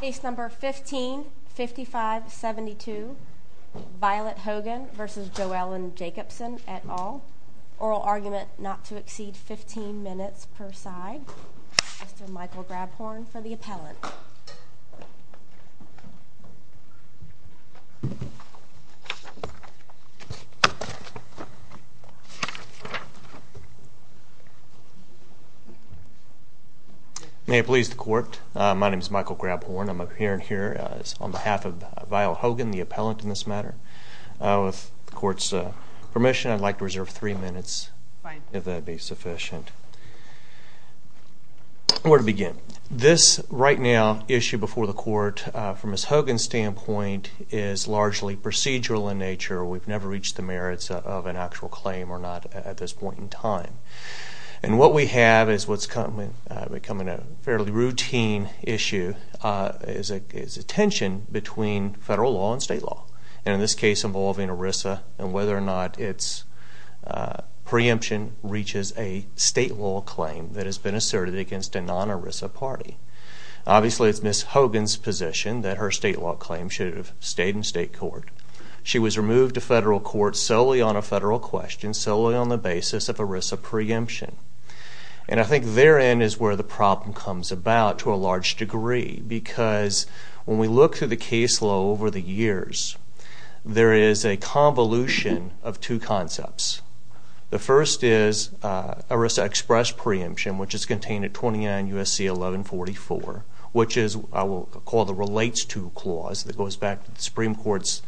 Case No. 15-5572, Violet Hogan v. Jo Ellen Jacobson, et al. Oral argument not to exceed 15 minutes per side. Mr. Michael Grabhorn for the appellant. May it please the court, my name is Michael Grabhorn, I'm appearing here on behalf of Violet Hogan, the appellant in this matter. With the court's permission, I'd like to reserve three minutes, if that would be sufficient. Where to begin? This right now issue before the court, from Ms. Hogan's standpoint, is largely procedural in nature. We've never reached the merits of an actual claim or not at this point in time. And what we have is what's becoming a fairly routine issue, is a tension between federal law and state law. And in this case involving ERISA and whether or not its preemption reaches a state law claim that has been asserted against a non-ERISA party. Obviously, it's Ms. Hogan's position that her state law claim should have stayed in state court. She was removed to federal court solely on a federal question, solely on the basis of ERISA preemption. And I think therein is where the problem comes about to a large degree. Because when we look through the case law over the years, there is a convolution of two concepts. The first is ERISA express preemption, which is contained at 29 U.S.C. 1144, which is what I will call the relates to clause that goes back to the Supreme Court's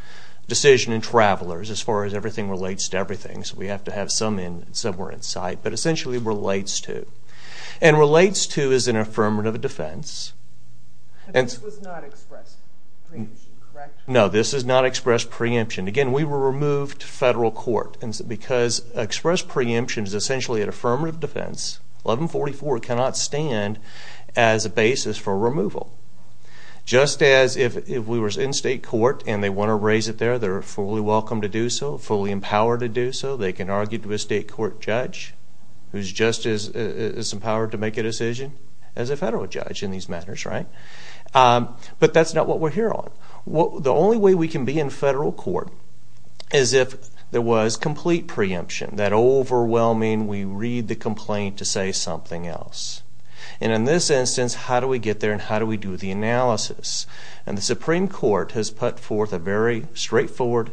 decision in Travelers, as far as everything relates to everything. So we have to have some in somewhere in sight, but essentially relates to. And relates to is an affirmative defense. But this was not express preemption, correct? No, this is not express preemption. Again, we were removed to federal court because express preemption is essentially an affirmative defense. 1144 cannot stand as a basis for removal. Just as if we were in state court and they want to raise it there, they're fully welcome to do so, fully empowered to do so. They can argue to a state court judge who's just as empowered to make a decision as a federal judge in these matters, right? But that's not what we're here on. The only way we can be in federal court is if there was complete preemption, that overwhelming we read the complaint to say something else. And in this instance, how do we get there and how do we do the analysis? And the Supreme Court has put forth a very straightforward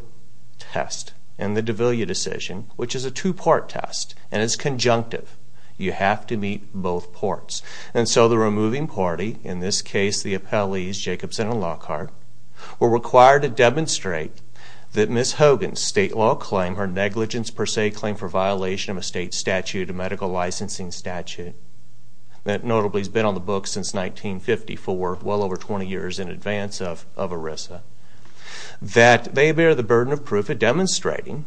test in the D'Aviglia decision, which is a two-part test, and it's conjunctive. You have to meet both parts. And so the removing party, in this case the appellees, Jacobson and Lockhart, were required to demonstrate that Ms. Hogan's state law claim, her negligence per se claim for violation of a state statute, a medical licensing statute, that notably has been on the books since 1954, well over 20 years in advance of ERISA, that they bear the burden of proof at demonstrating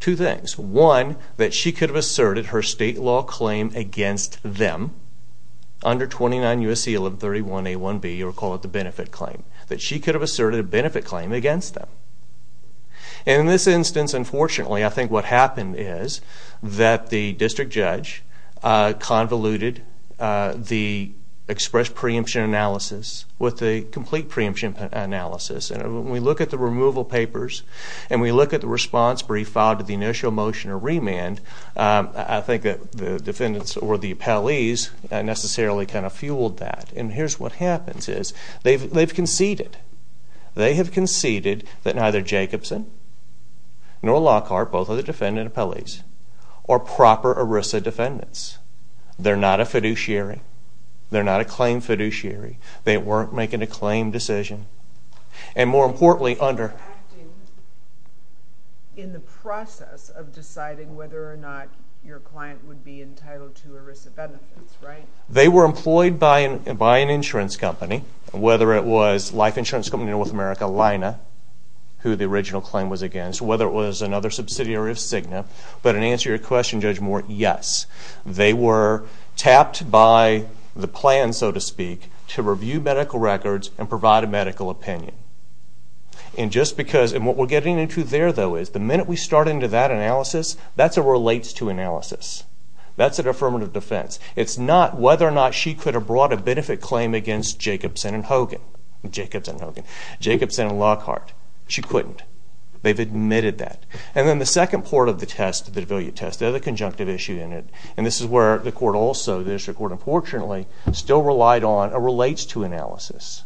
two things. One, that she could have asserted her state law claim against them under 29 U.S.C. 31A1B, or call it the benefit claim, that she could have asserted a benefit claim against them. And in this instance, unfortunately, I think what happened is that the district judge convoluted the expressed preemption analysis with the complete preemption analysis. And when we look at the removal papers and we look at the response brief filed to the initial motion or remand, I think that the defendants or the appellees necessarily kind of fueled that. And here's what happens is they've conceded. They have conceded that neither Jacobson nor Lockhart, both of the defendant appellees, are proper ERISA defendants. They're not a fiduciary. They're not a claim fiduciary. They weren't making a claim decision. And more importantly, under... They were acting in the process of deciding whether or not your client would be entitled to ERISA benefits, right? They were employed by an insurance company, whether it was Life Insurance Company of North America, Lina, who the original claim was against, whether it was another subsidiary of Cigna. But in answer to your question, Judge Moore, yes, they were tapped by the plan, so to speak, to review medical records and provide a medical opinion. And just because... And what we're getting into there, though, is the minute we start into that analysis, that's a relates-to analysis. That's an affirmative defense. It's not whether or not she could have brought a benefit claim against Jacobson and Hogan. Jacobson and Hogan. Jacobson and Lockhart. She couldn't. They've admitted that. And then the second part of the test, the D'Aviglia test, the other conjunctive issue in it, and this is where the court also, the district court, unfortunately, still relied on a relates-to analysis.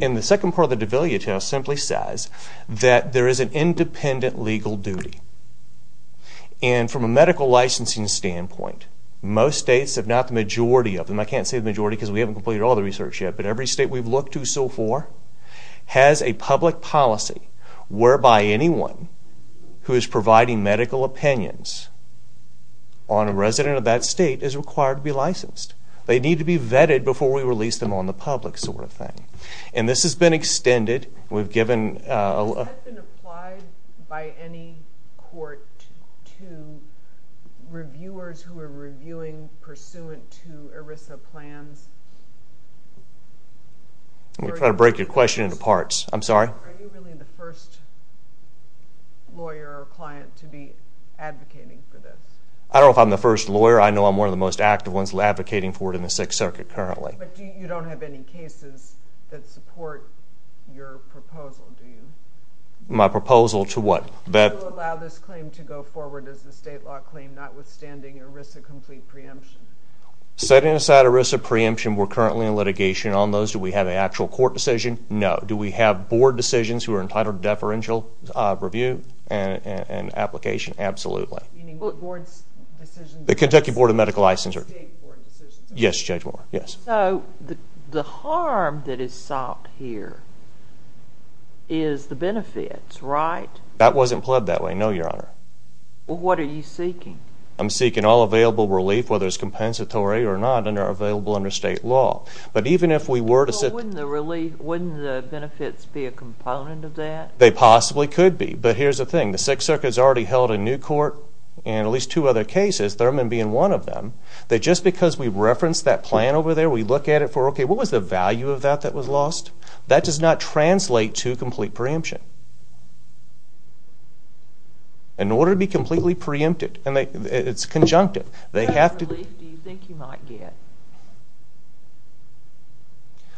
And the second part of the D'Aviglia test simply says that there is an independent legal duty. And from a medical licensing standpoint, most states, if not the majority of them, I can't say the majority because we haven't completed all the research yet, but every state we've looked to so far has a public policy whereby anyone who is providing medical opinions on a resident of that state is required to be licensed. They need to be vetted before we release them on the public sort of thing. And this has been extended. Has that been applied by any court to reviewers who are reviewing pursuant to ERISA plans? I'm going to try to break your question into parts. I'm sorry? Are you really the first lawyer or client to be advocating for this? I don't know if I'm the first lawyer. I know I'm one of the most active ones advocating for it in the Sixth Circuit currently. But you don't have any cases that support your proposal, do you? My proposal to what? To allow this claim to go forward as a state law claim notwithstanding ERISA complete preemption. Setting aside ERISA preemption, we're currently in litigation on those. Do we have an actual court decision? No. Do we have board decisions who are entitled to deferential review and application? Absolutely. Meaning the board's decision? The Kentucky Board of Medical Licensing. The state board decision? Yes, Judge Moore. Yes. So the harm that is sought here is the benefits, right? That wasn't plugged that way, no, Your Honor. Well, what are you seeking? I'm seeking all available relief, whether it's compensatory or not, and they're available under state law. But even if we were to set... Well, wouldn't the benefits be a component of that? They possibly could be. But here's the thing. The Sixth Circuit's already held a new court and at least two other cases, Thurman being one of them, that just because we reference that plan over there, we look at it for, okay, what was the value of that that was lost? That does not translate to complete preemption. In order to be completely preempted, and it's conjunctive, they have to... What kind of relief do you think you might get?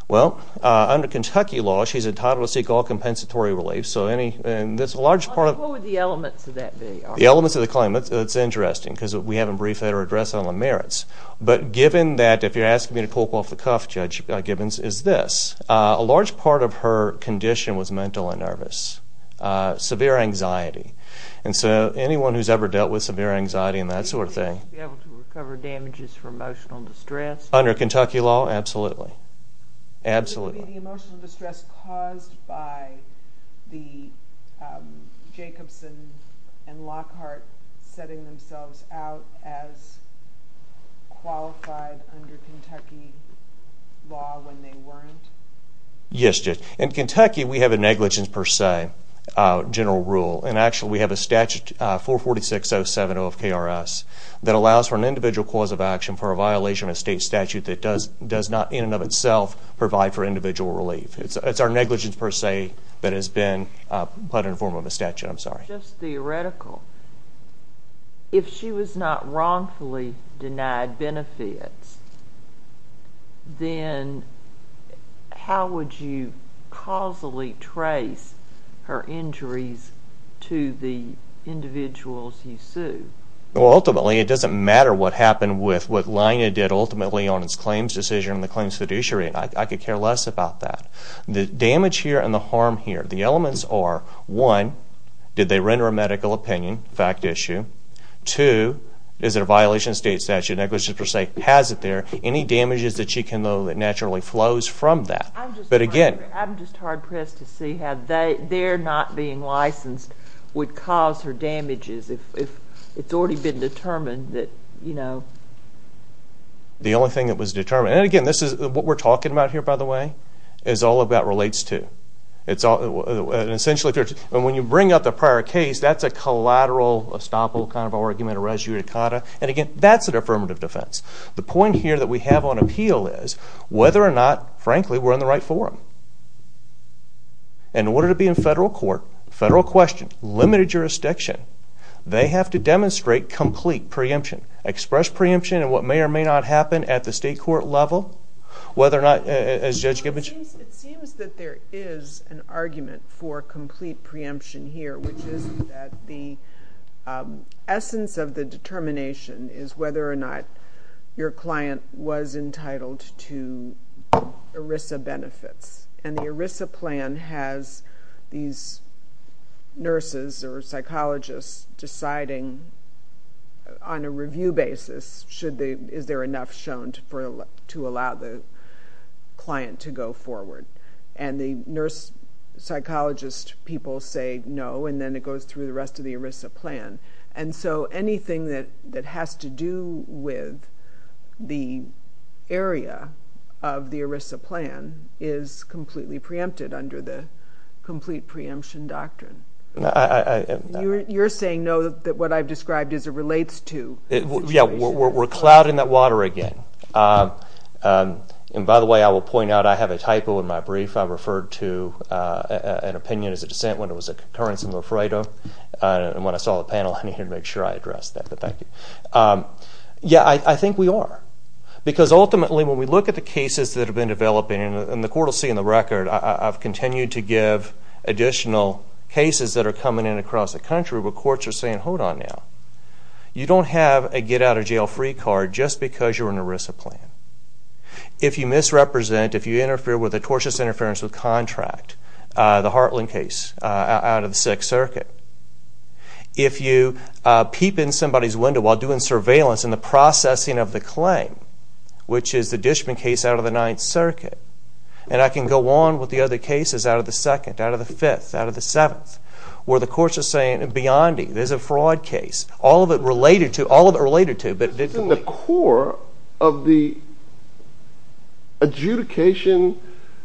Well, under Kentucky law, she's entitled to seek all compensatory relief. What would the elements of that be? The elements of the claim, that's interesting because we haven't briefed that or addressed it on the merits. But given that, if you're asking me to poke off the cuff, Judge Gibbons, is this. A large part of her condition was mental and nervous, severe anxiety. And so anyone who's ever dealt with severe anxiety and that sort of thing... Would she be able to recover damages for emotional distress? Under Kentucky law, absolutely. Would it be the emotional distress caused by the Jacobson and Lockhart setting themselves out as qualified under Kentucky law when they weren't? Yes, Judge. In Kentucky, we have a negligence per se general rule. And actually, we have a statute, 446.07 OFKRS, that allows for an individual cause of action for a violation of a state statute that does not in and of itself provide for individual relief. It's our negligence per se that has been put in the form of a statute. Just theoretical, if she was not wrongfully denied benefits, then how would you causally trace her injuries to the individuals you sue? Ultimately, it doesn't matter what happened with what Lina did ultimately on its claims decision and the claims fiduciary. I could care less about that. The damage here and the harm here, the elements are, one, did they render a medical opinion, fact issue? Two, is it a violation of state statute, negligence per se? Has it there? Any damages that she can know that naturally flows from that? I'm just hard-pressed to see how their not being licensed would cause her damages if it's already been determined that, you know. The only thing that was determined, and again, this is what we're talking about here, by the way, is all about relates to. When you bring up the prior case, that's a collateral estoppel kind of argument, a res judicata, and again, that's an affirmative defense. The point here that we have on appeal is whether or not, frankly, we're in the right forum. In order to be in federal court, federal question, limited jurisdiction, they have to demonstrate complete preemption, express preemption in what may or may not happen at the state court level, whether or not, as Judge Gibbons said. It seems that there is an argument for complete preemption here, which is that the essence of the determination is whether or not your client was entitled to ERISA benefits. And the ERISA plan has these nurses or psychologists deciding on a review basis is there enough shown to allow the client to go forward. And the nurse psychologist people say no, and then it goes through the rest of the ERISA plan. And so anything that has to do with the area of the ERISA plan is completely preempted under the complete preemption doctrine. You're saying no, that what I've described as it relates to the situation. Yeah, we're clouding that water again. And by the way, I will point out I have a typo in my brief. I referred to an opinion as a dissent when it was a concurrence in Lofredo. And when I saw the panel, I needed to make sure I addressed that. But thank you. Yeah, I think we are. Because ultimately when we look at the cases that have been developing, and the court will see in the record, I've continued to give additional cases that are coming in across the country where courts are saying, hold on now. You don't have a get-out-of-jail-free card just because you're in an ERISA plan. If you misrepresent, if you interfere with a tortious interference with contract, the Hartland case out of the Sixth Circuit, if you peep in somebody's window while doing surveillance in the processing of the claim, which is the Dishman case out of the Ninth Circuit, and I can go on with the other cases out of the Second, out of the Fifth, out of the Seventh, where the courts are saying, beyond me, there's a fraud case, all of it related to, all of it related to. This is in the core of the adjudication,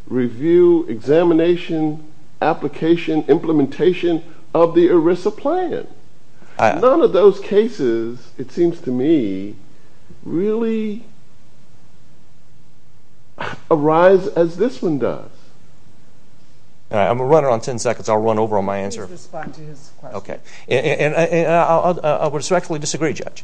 review, examination, application, implementation of the ERISA plan. None of those cases, it seems to me, really arise as this one does. I'm going to run around 10 seconds. I'll run over on my answer. Please respond to his question. Okay. And I respectfully disagree, Judge.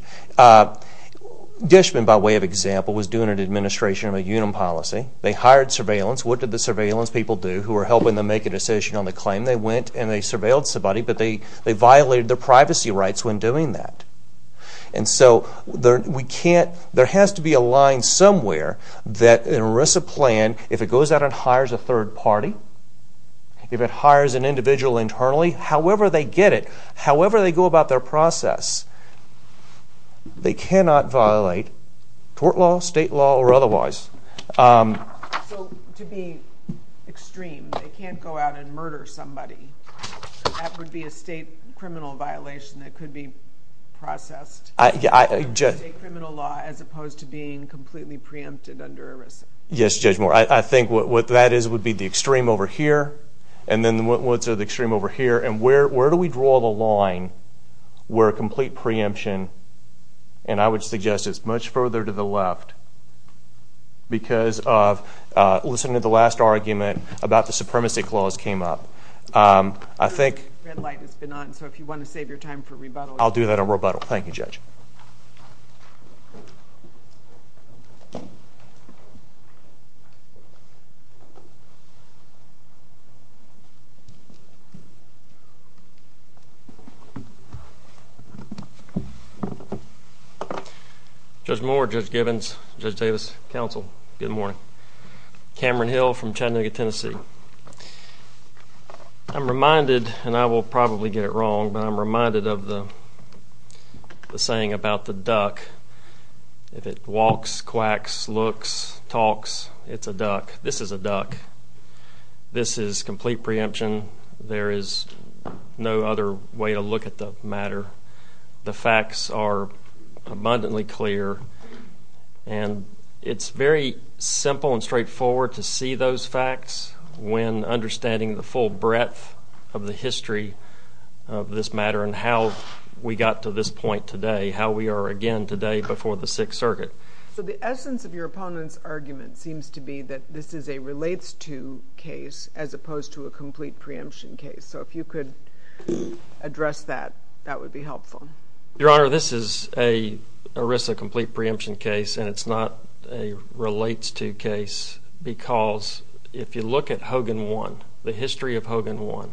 Dishman, by way of example, was doing an administration of a UNAM policy. They hired surveillance. What did the surveillance people do who were helping them make a decision on the claim? They went and they surveilled somebody, but they violated their privacy rights when doing that. And so we can't, there has to be a line somewhere that an ERISA plan, if it goes out and hires a third party, if it hires an individual internally, however they get it, however they go about their process, they cannot violate court law, state law, or otherwise. So to be extreme, they can't go out and murder somebody. That would be a state criminal violation that could be processed under state criminal law as opposed to being completely preempted under ERISA. Yes, Judge Moore. I think what that is would be the extreme over here, and then what's the extreme over here, and where do we draw the line where a complete preemption, and I would suggest it's much further to the left, because of listening to the last argument about the supremacy clause came up. The red light has been on, so if you want to save your time for rebuttal. I'll do that on rebuttal. Thank you, Judge. Thank you. Judge Moore, Judge Givens, Judge Davis, counsel, good morning. Cameron Hill from Chattanooga, Tennessee. I'm reminded, and I will probably get it wrong, but I'm reminded of the saying about the duck. If it walks, quacks, looks, talks, it's a duck. This is a duck. This is complete preemption. There is no other way to look at the matter. The facts are abundantly clear, and it's very simple and straightforward to see those facts when understanding the full breadth of the history of this matter and how we got to this point today, how we are again today before the Sixth Circuit. So the essence of your opponent's argument seems to be that this is a relates-to case as opposed to a complete preemption case. So if you could address that, that would be helpful. Your Honor, this is a ERISA complete preemption case, and it's not a relates-to case because if you look at Hogan 1, the history of Hogan 1,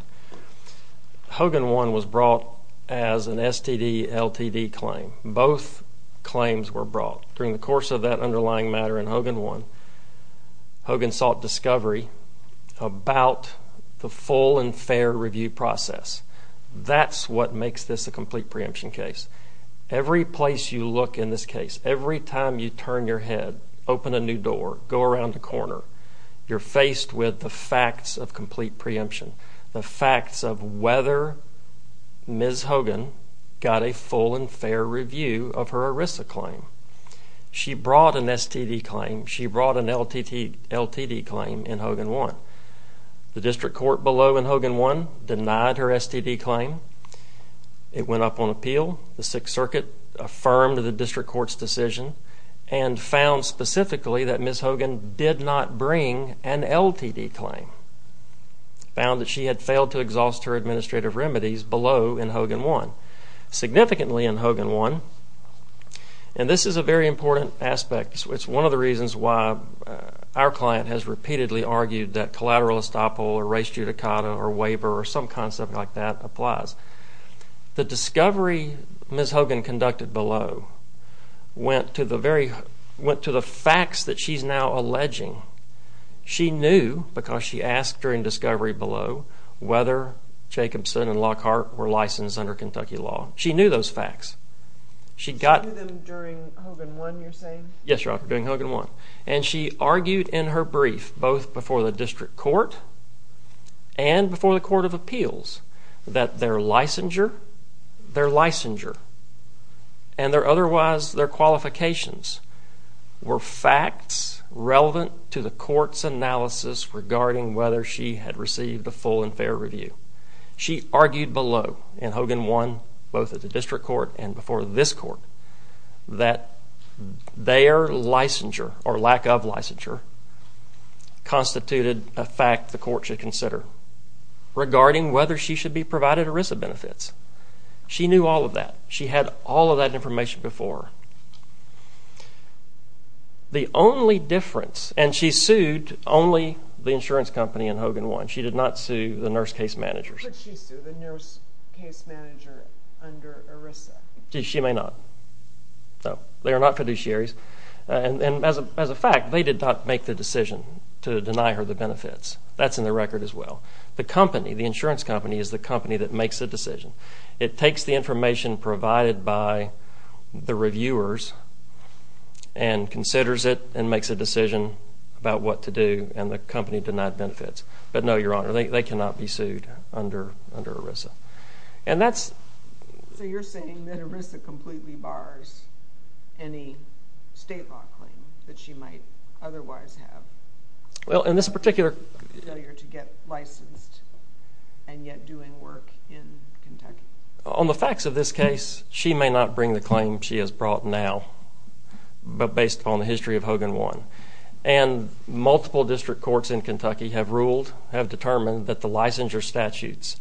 Hogan 1 was brought as an STD-LTD claim. Both claims were brought. During the course of that underlying matter in Hogan 1, Hogan sought discovery about the full and fair review process. That's what makes this a complete preemption case. Every place you look in this case, every time you turn your head, open a new door, go around a corner, you're faced with the facts of complete preemption, the facts of whether Ms. Hogan got a full and fair review of her ERISA claim. She brought an STD claim. She brought an LTD claim in Hogan 1. The district court below in Hogan 1 denied her STD claim. It went up on appeal. The Sixth Circuit affirmed the district court's decision and found specifically that Ms. Hogan did not bring an LTD claim. Found that she had failed to exhaust her administrative remedies below in Hogan 1. Significantly in Hogan 1, and this is a very important aspect. It's one of the reasons why our client has repeatedly argued that collateral estoppel or res judicata or waiver or some concept like that applies. The discovery Ms. Hogan conducted below went to the facts that she's now alleging. She knew because she asked during discovery below whether Jacobson and Lockhart were licensed under Kentucky law. She knew those facts. She got them during Hogan 1, you're saying? Yes, Your Honor, during Hogan 1. And she argued in her brief both before the district court and before the Court of Appeals that their licensure, their licensure, and otherwise their qualifications were facts relevant to the court's analysis regarding whether she had received a full and fair review. She argued below in Hogan 1, both at the district court and before this court, that their licensure or lack of licensure constituted a fact the court should consider regarding whether she should be provided ERISA benefits. She knew all of that. She had all of that information before. The only difference, and she sued only the insurance company in Hogan 1. She did not sue the nurse case managers. Could she sue the nurse case manager under ERISA? She may not. They are not fiduciaries. And as a fact, they did not make the decision to deny her the benefits. That's in the record as well. The company, the insurance company, is the company that makes the decision. It takes the information provided by the reviewers and considers it and makes a decision about what to do, and the company denied benefits. But no, Your Honor, they cannot be sued under ERISA. And that's… So you're saying that ERISA completely bars any state law claim that she might otherwise have? Well, in this particular… Failure to get licensed and yet doing work in Kentucky? On the facts of this case, she may not bring the claim she has brought now, but based on the history of Hogan 1. And multiple district courts in Kentucky have ruled, have determined, that the licensure statutes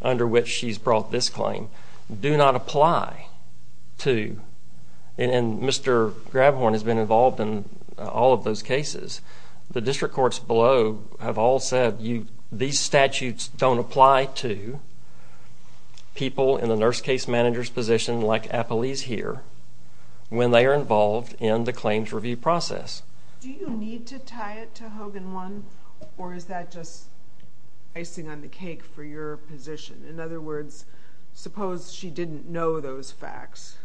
under which she's brought this claim do not apply to. And Mr. Grabhorn has been involved in all of those cases. The district courts below have all said, these statutes don't apply to people in the nurse case manager's position, like Apolise here, when they are involved in the claims review process. Do you need to tie it to Hogan 1, or is that just icing on the cake for your position? In other words, suppose she didn't know those facts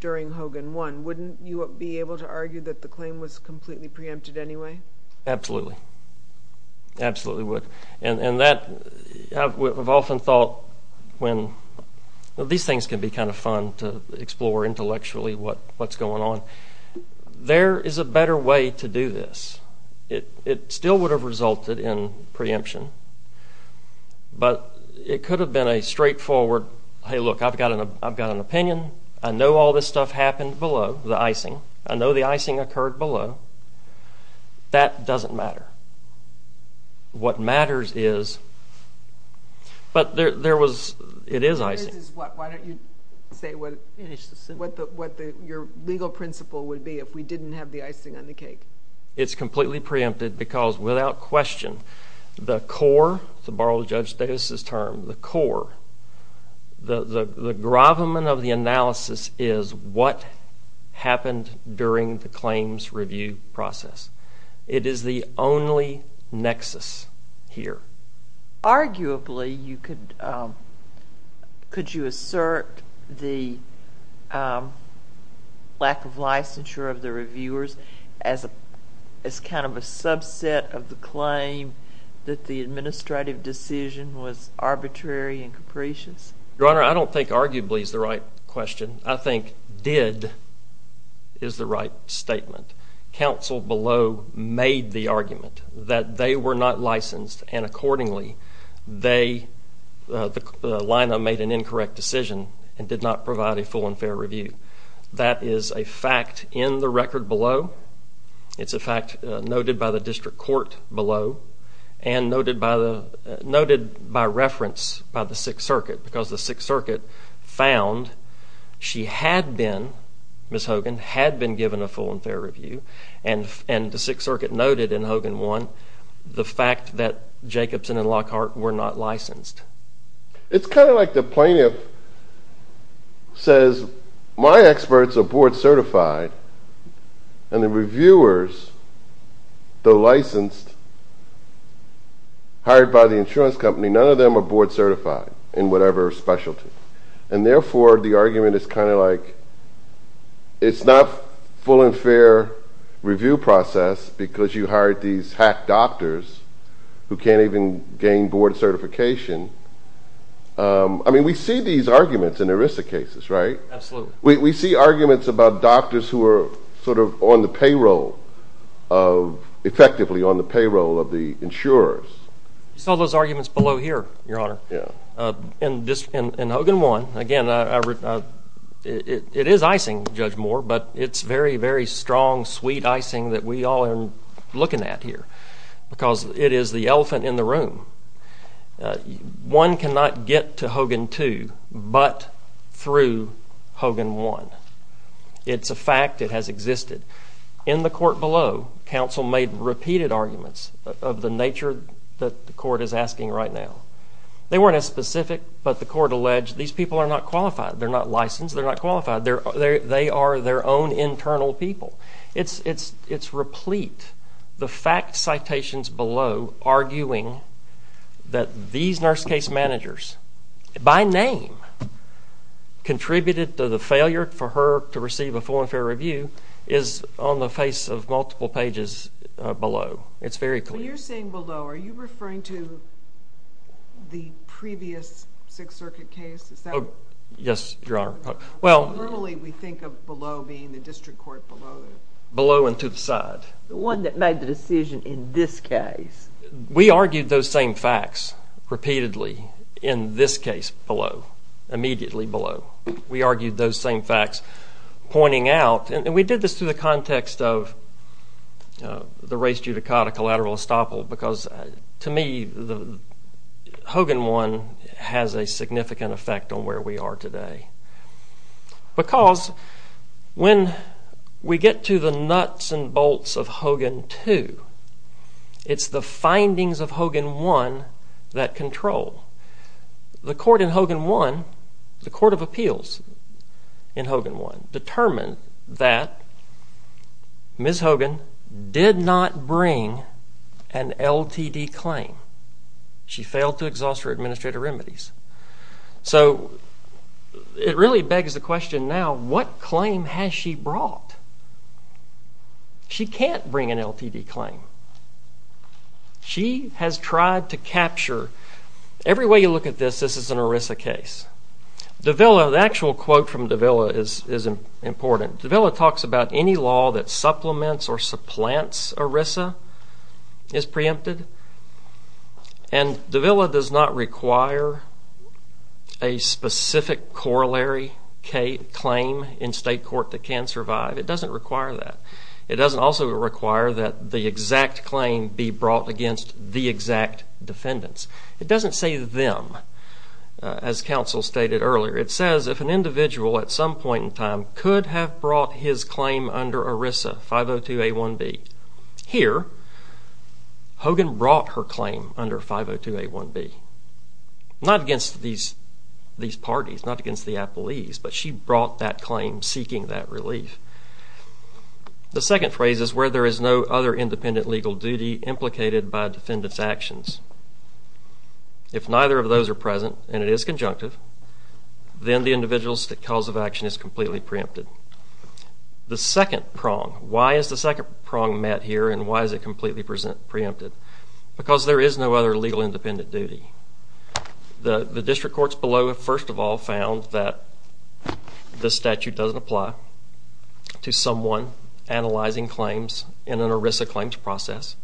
during Hogan 1, wouldn't you be able to argue that the claim was completely preempted anyway? Absolutely. Absolutely would. And that… I've often thought when… These things can be kind of fun to explore intellectually what's going on. There is a better way to do this. It still would have resulted in preemption, but it could have been a straightforward, hey, look, I've got an opinion. I know all this stuff happened below, the icing. I know the icing occurred below. That doesn't matter. What matters is… But it is icing. What matters is what? Why don't you say what your legal principle would be if we didn't have the icing on the cake? It's completely preempted because, without question, the core, to borrow Judge Davis' term, the core, the gravamen of the analysis is what happened during the claims review process. It is the only nexus here. Arguably, you could… Could you assert the lack of licensure of the reviewers as kind of a subset of the claim that the administrative decision was arbitrary and capricious? Your Honor, I don't think arguably is the right question. I think did is the right statement. Counsel below made the argument that they were not licensed, and accordingly, they, the line made an incorrect decision and did not provide a full and fair review. That is a fact in the record below. It's a fact noted by the district court below and noted by reference by the Sixth Circuit because the Sixth Circuit found she had been, Ms. Hogan, had been given a full and fair review, and the Sixth Circuit noted in Hogan 1 the fact that Jacobson and Lockhart were not licensed. It's kind of like the plaintiff says, my experts are board certified, and the reviewers, though licensed, hired by the insurance company, none of them are board certified in whatever specialty, and therefore, the argument is kind of like, it's not full and fair review process because you hired these hack doctors who can't even gain board certification. I mean, we see these arguments in ERISA cases, right? Absolutely. We see arguments about doctors who are sort of on the payroll, effectively on the payroll of the insurers. You saw those arguments below here, Your Honor. Yeah. In Hogan 1, again, it is icing, Judge Moore, but it's very, very strong, sweet icing that we all are looking at here because it is the elephant in the room. One cannot get to Hogan 2 but through Hogan 1. It's a fact. It has existed. In the court below, counsel made repeated arguments of the nature that the court is asking right now. They weren't as specific, but the court alleged these people are not qualified. They're not licensed. They're not qualified. They are their own internal people. It's replete. The fact citations below arguing that these nurse case managers, by name, contributed to the failure for her to receive a full and fair review is on the face of multiple pages below. It's very clear. When you're saying below, are you referring to the previous Sixth Circuit case? Is that... Yes, Your Honor. Normally, we think of below being the district court below. Below and to the side. The one that made the decision in this case. We argued those same facts repeatedly in this case below, immediately below. We argued those same facts pointing out, and we did this through the context of the res judicata collateral estoppel because, to me, Hogan 1 has a significant effect on where we are today because when we get to the nuts and bolts of Hogan 2, it's the findings of Hogan 1 that control. The court in Hogan 1, the Court of Appeals in Hogan 1, determined that Ms. Hogan did not bring an LTD claim. She failed to exhaust her administrative remedies. So, it really begs the question now, what claim has she brought? She can't bring an LTD claim. She has tried to capture... Every way you look at this, this is an ERISA case. Davila, the actual quote from Davila is important. Davila talks about any law that supplements or supplants ERISA is preempted, and Davila does not require a specific corollary claim in state court that can survive. It doesn't require that. It doesn't also require that the exact claim be brought against the exact defendants. It doesn't say them, as counsel stated earlier. It says if an individual, at some point in time, could have brought his claim under ERISA, 502A1B. Here, Hogan brought her claim under 502A1B. Not against these parties, not against the appellees, but she brought that claim, seeking that relief. The second phrase is where there is no other independent legal duty implicated by defendant's actions. If neither of those are present, and it is conjunctive, then the individual's cause of action is completely preempted. The second prong. Why is the second prong met here, and why is it completely preempted? Because there is no other legal independent duty. The district courts below, first of all, found that the statute doesn't apply to someone analyzing claims in an ERISA claims process.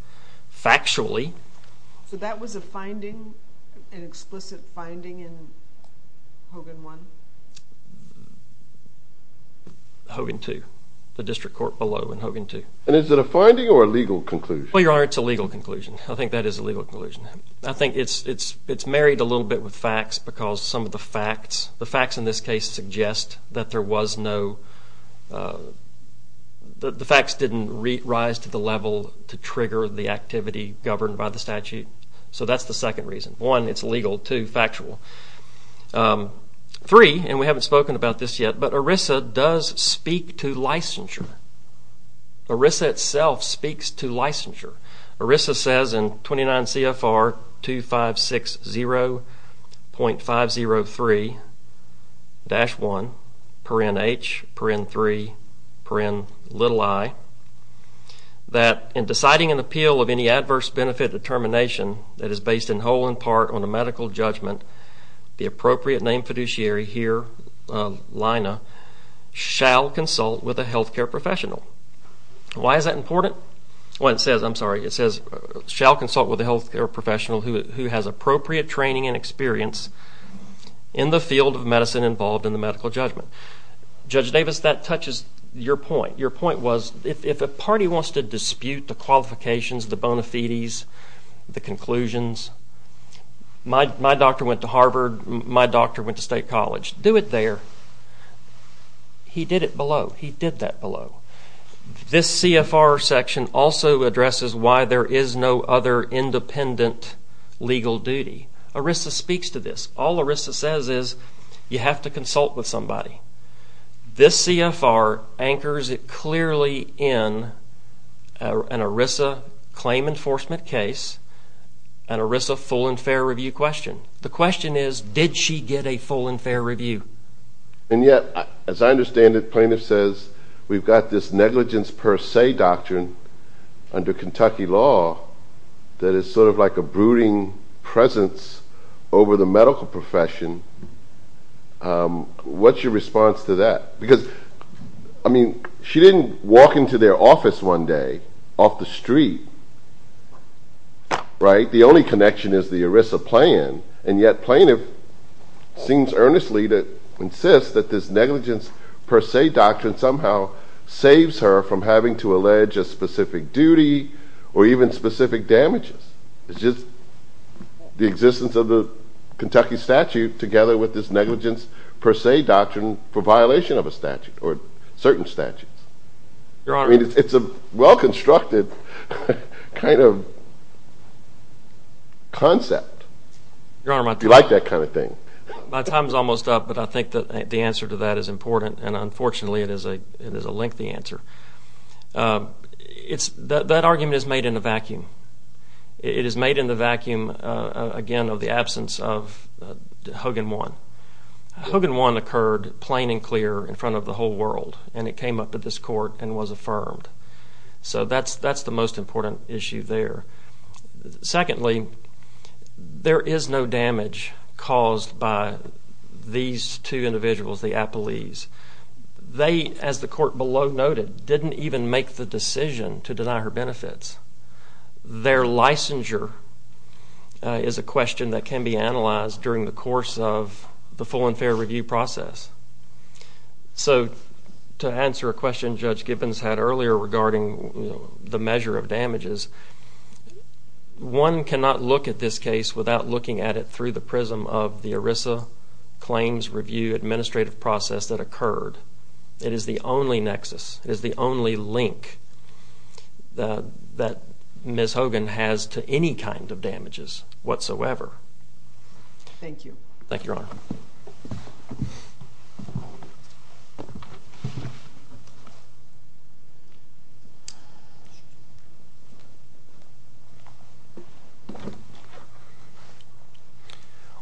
Factually... So that was a finding, an explicit finding in Hogan 1? Hogan 2. The district court below in Hogan 2. And is it a finding or a legal conclusion? Well, Your Honor, it's a legal conclusion. I think that is a legal conclusion. I think it's married a little bit with facts because some of the facts, the facts in this case, suggest that there was no... that the facts didn't rise to the level to trigger the activity governed by the statute. So that's the second reason. One, it's legal. Two, factual. Three, and we haven't spoken about this yet, but ERISA does speak to licensure. ERISA itself speaks to licensure. ERISA says in 29 CFR 2560.503-1, parent H, parent 3, parent i, that in deciding an appeal of any adverse benefit determination that is based in whole and part on a medical judgment, the appropriate named fiduciary here, Lina, shall consult with a health care professional. Why is that important? Well, it says, I'm sorry, it says, shall consult with a health care professional who has appropriate training and experience in the field of medicine involved in the medical judgment. Judge Davis, that touches your point. Your point was if a party wants to dispute the qualifications, the bona fides, the conclusions, my doctor went to Harvard, my doctor went to state college. Do it there. He did it below. He did that below. This CFR section also addresses why there is no other independent legal duty. ERISA speaks to this. All ERISA says is you have to consult with somebody. This CFR anchors it clearly in an ERISA claim enforcement case, an ERISA full and fair review question. The question is did she get a full and fair review? And yet, as I understand it, plaintiff says we've got this negligence per se doctrine under Kentucky law that is sort of like a brooding presence over the medical profession. What's your response to that? Because, I mean, she didn't walk into their office one day off the street, right? The only connection is the ERISA plan, and yet plaintiff seems earnestly to insist that this negligence per se doctrine somehow saves her from having to allege a specific duty or even specific damages. It's just the existence of the Kentucky statute together with this negligence per se doctrine for violation of a statute or certain statutes. I mean, it's a well-constructed kind of concept. Do you like that kind of thing? My time is almost up, but I think that the answer to that is important, and unfortunately it is a lengthy answer. That argument is made in a vacuum. It is made in the vacuum, again, of the absence of Hogan 1. Hogan 1 occurred plain and clear in front of the whole world, and it came up at this court and was affirmed. So that's the most important issue there. Secondly, there is no damage caused by these two individuals, the appellees. They, as the court below noted, didn't even make the decision to deny her benefits. Their licensure is a question that can be analyzed during the course of the full and fair review process. So to answer a question Judge Gibbons had earlier regarding the measure of damages, one cannot look at this case without looking at it through the prism of the ERISA claims review administrative process that occurred. It is the only nexus. It is the only link that Ms. Hogan has to any kind of damages whatsoever. Thank you. Thank you, Your Honor.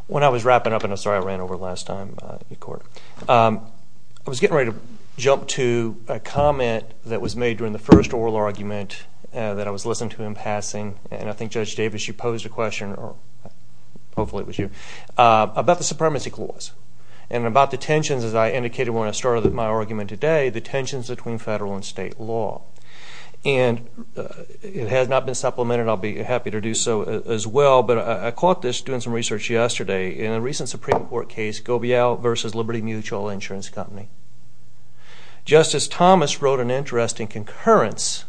When I was wrapping up, and I'm sorry I ran over last time in court, I was getting ready to jump to a comment that was made during the first oral argument that I was listening to in passing, and I think Judge Davis, you posed a question, or hopefully it was you, about the supremacy clause and about the tensions, as I indicated when I started my argument today, the tensions between federal and state law. And it has not been supplemented. I'll be happy to do so as well, but I caught this doing some research yesterday. In a recent Supreme Court case, Gobeyell v. Liberty Mutual Insurance Company, Justice Thomas wrote an interesting concurrence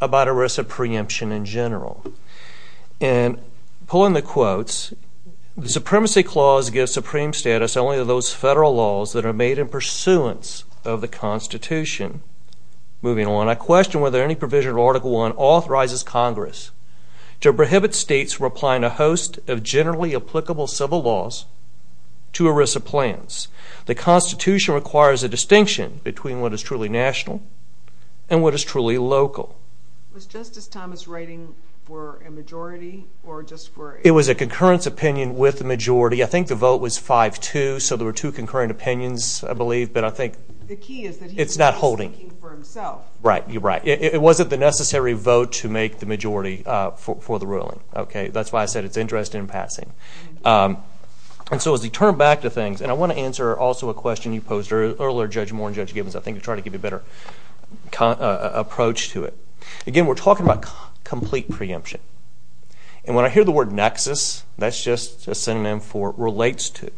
about ERISA preemption in general. And pulling the quotes, the supremacy clause gives supreme status only to those federal laws that are made in pursuance of the Constitution. Moving on, I question whether any provision of Article I authorizes Congress to prohibit states from applying a host of generally applicable civil laws to ERISA plans. The Constitution requires a distinction between what is truly national and what is truly local. Was Justice Thomas writing for a majority or just for... It was a concurrence opinion with the majority. I think the vote was 5-2, so there were two concurrent opinions, I believe, but I think... The key is that he... It's not holding. ...was thinking for himself. Right, you're right. It wasn't the necessary vote to make the majority for the ruling. Okay, that's why I said it's interest in passing. And so as we turn back to things, and I want to answer also a question you posed earlier, Judge Moore and Judge Gibbons, I think, to try to give you a better approach to it. Again, we're talking about complete preemption. And when I hear the word nexus, that's just a synonym for relates to.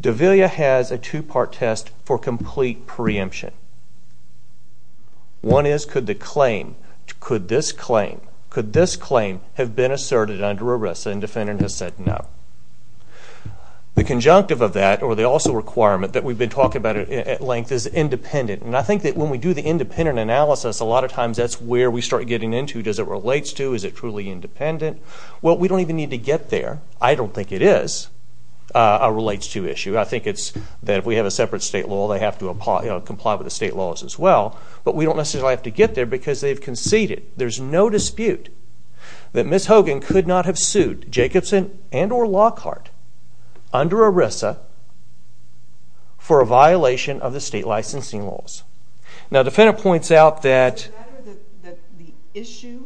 De Villa has a two-part test for complete preemption. One is could the claim... Could this claim... Could this claim have been asserted under ERISA and the defendant has said no? The conjunctive of that, or the also requirement that we've been talking about at length, is independent. And I think that when we do the independent analysis, a lot of times that's where we start getting into does it relates to, is it truly independent. Well, we don't even need to get there. I don't think it is a relates to issue. I think it's that if we have a separate state law, they have to comply with the state laws as well. But we don't necessarily have to get there because they've conceded. There's no dispute that Ms. Hogan could not have sued Jacobson and or Lockhart under ERISA for a violation of the state licensing laws. Now, the defendant points out that... Is it a matter that the issue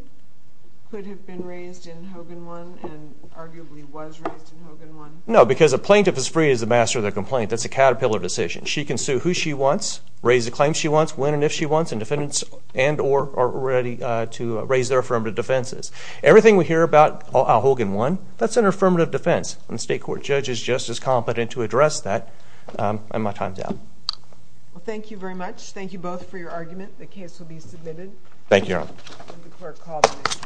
could have been raised in Hogan 1 and arguably was raised in Hogan 1? No, because a plaintiff is free as the master of their complaint. That's a caterpillar decision. She can sue who she wants, raise the claim she wants, when and if she wants, and defendants and or are ready to raise their affirmative defenses. Everything we hear about Hogan 1, that's an affirmative defense. And the state court judge is just as competent to address that. And my time's up. Well, thank you very much. Thank you both for your argument. The case will be submitted. Thank you, Your Honor. Let the court call the case.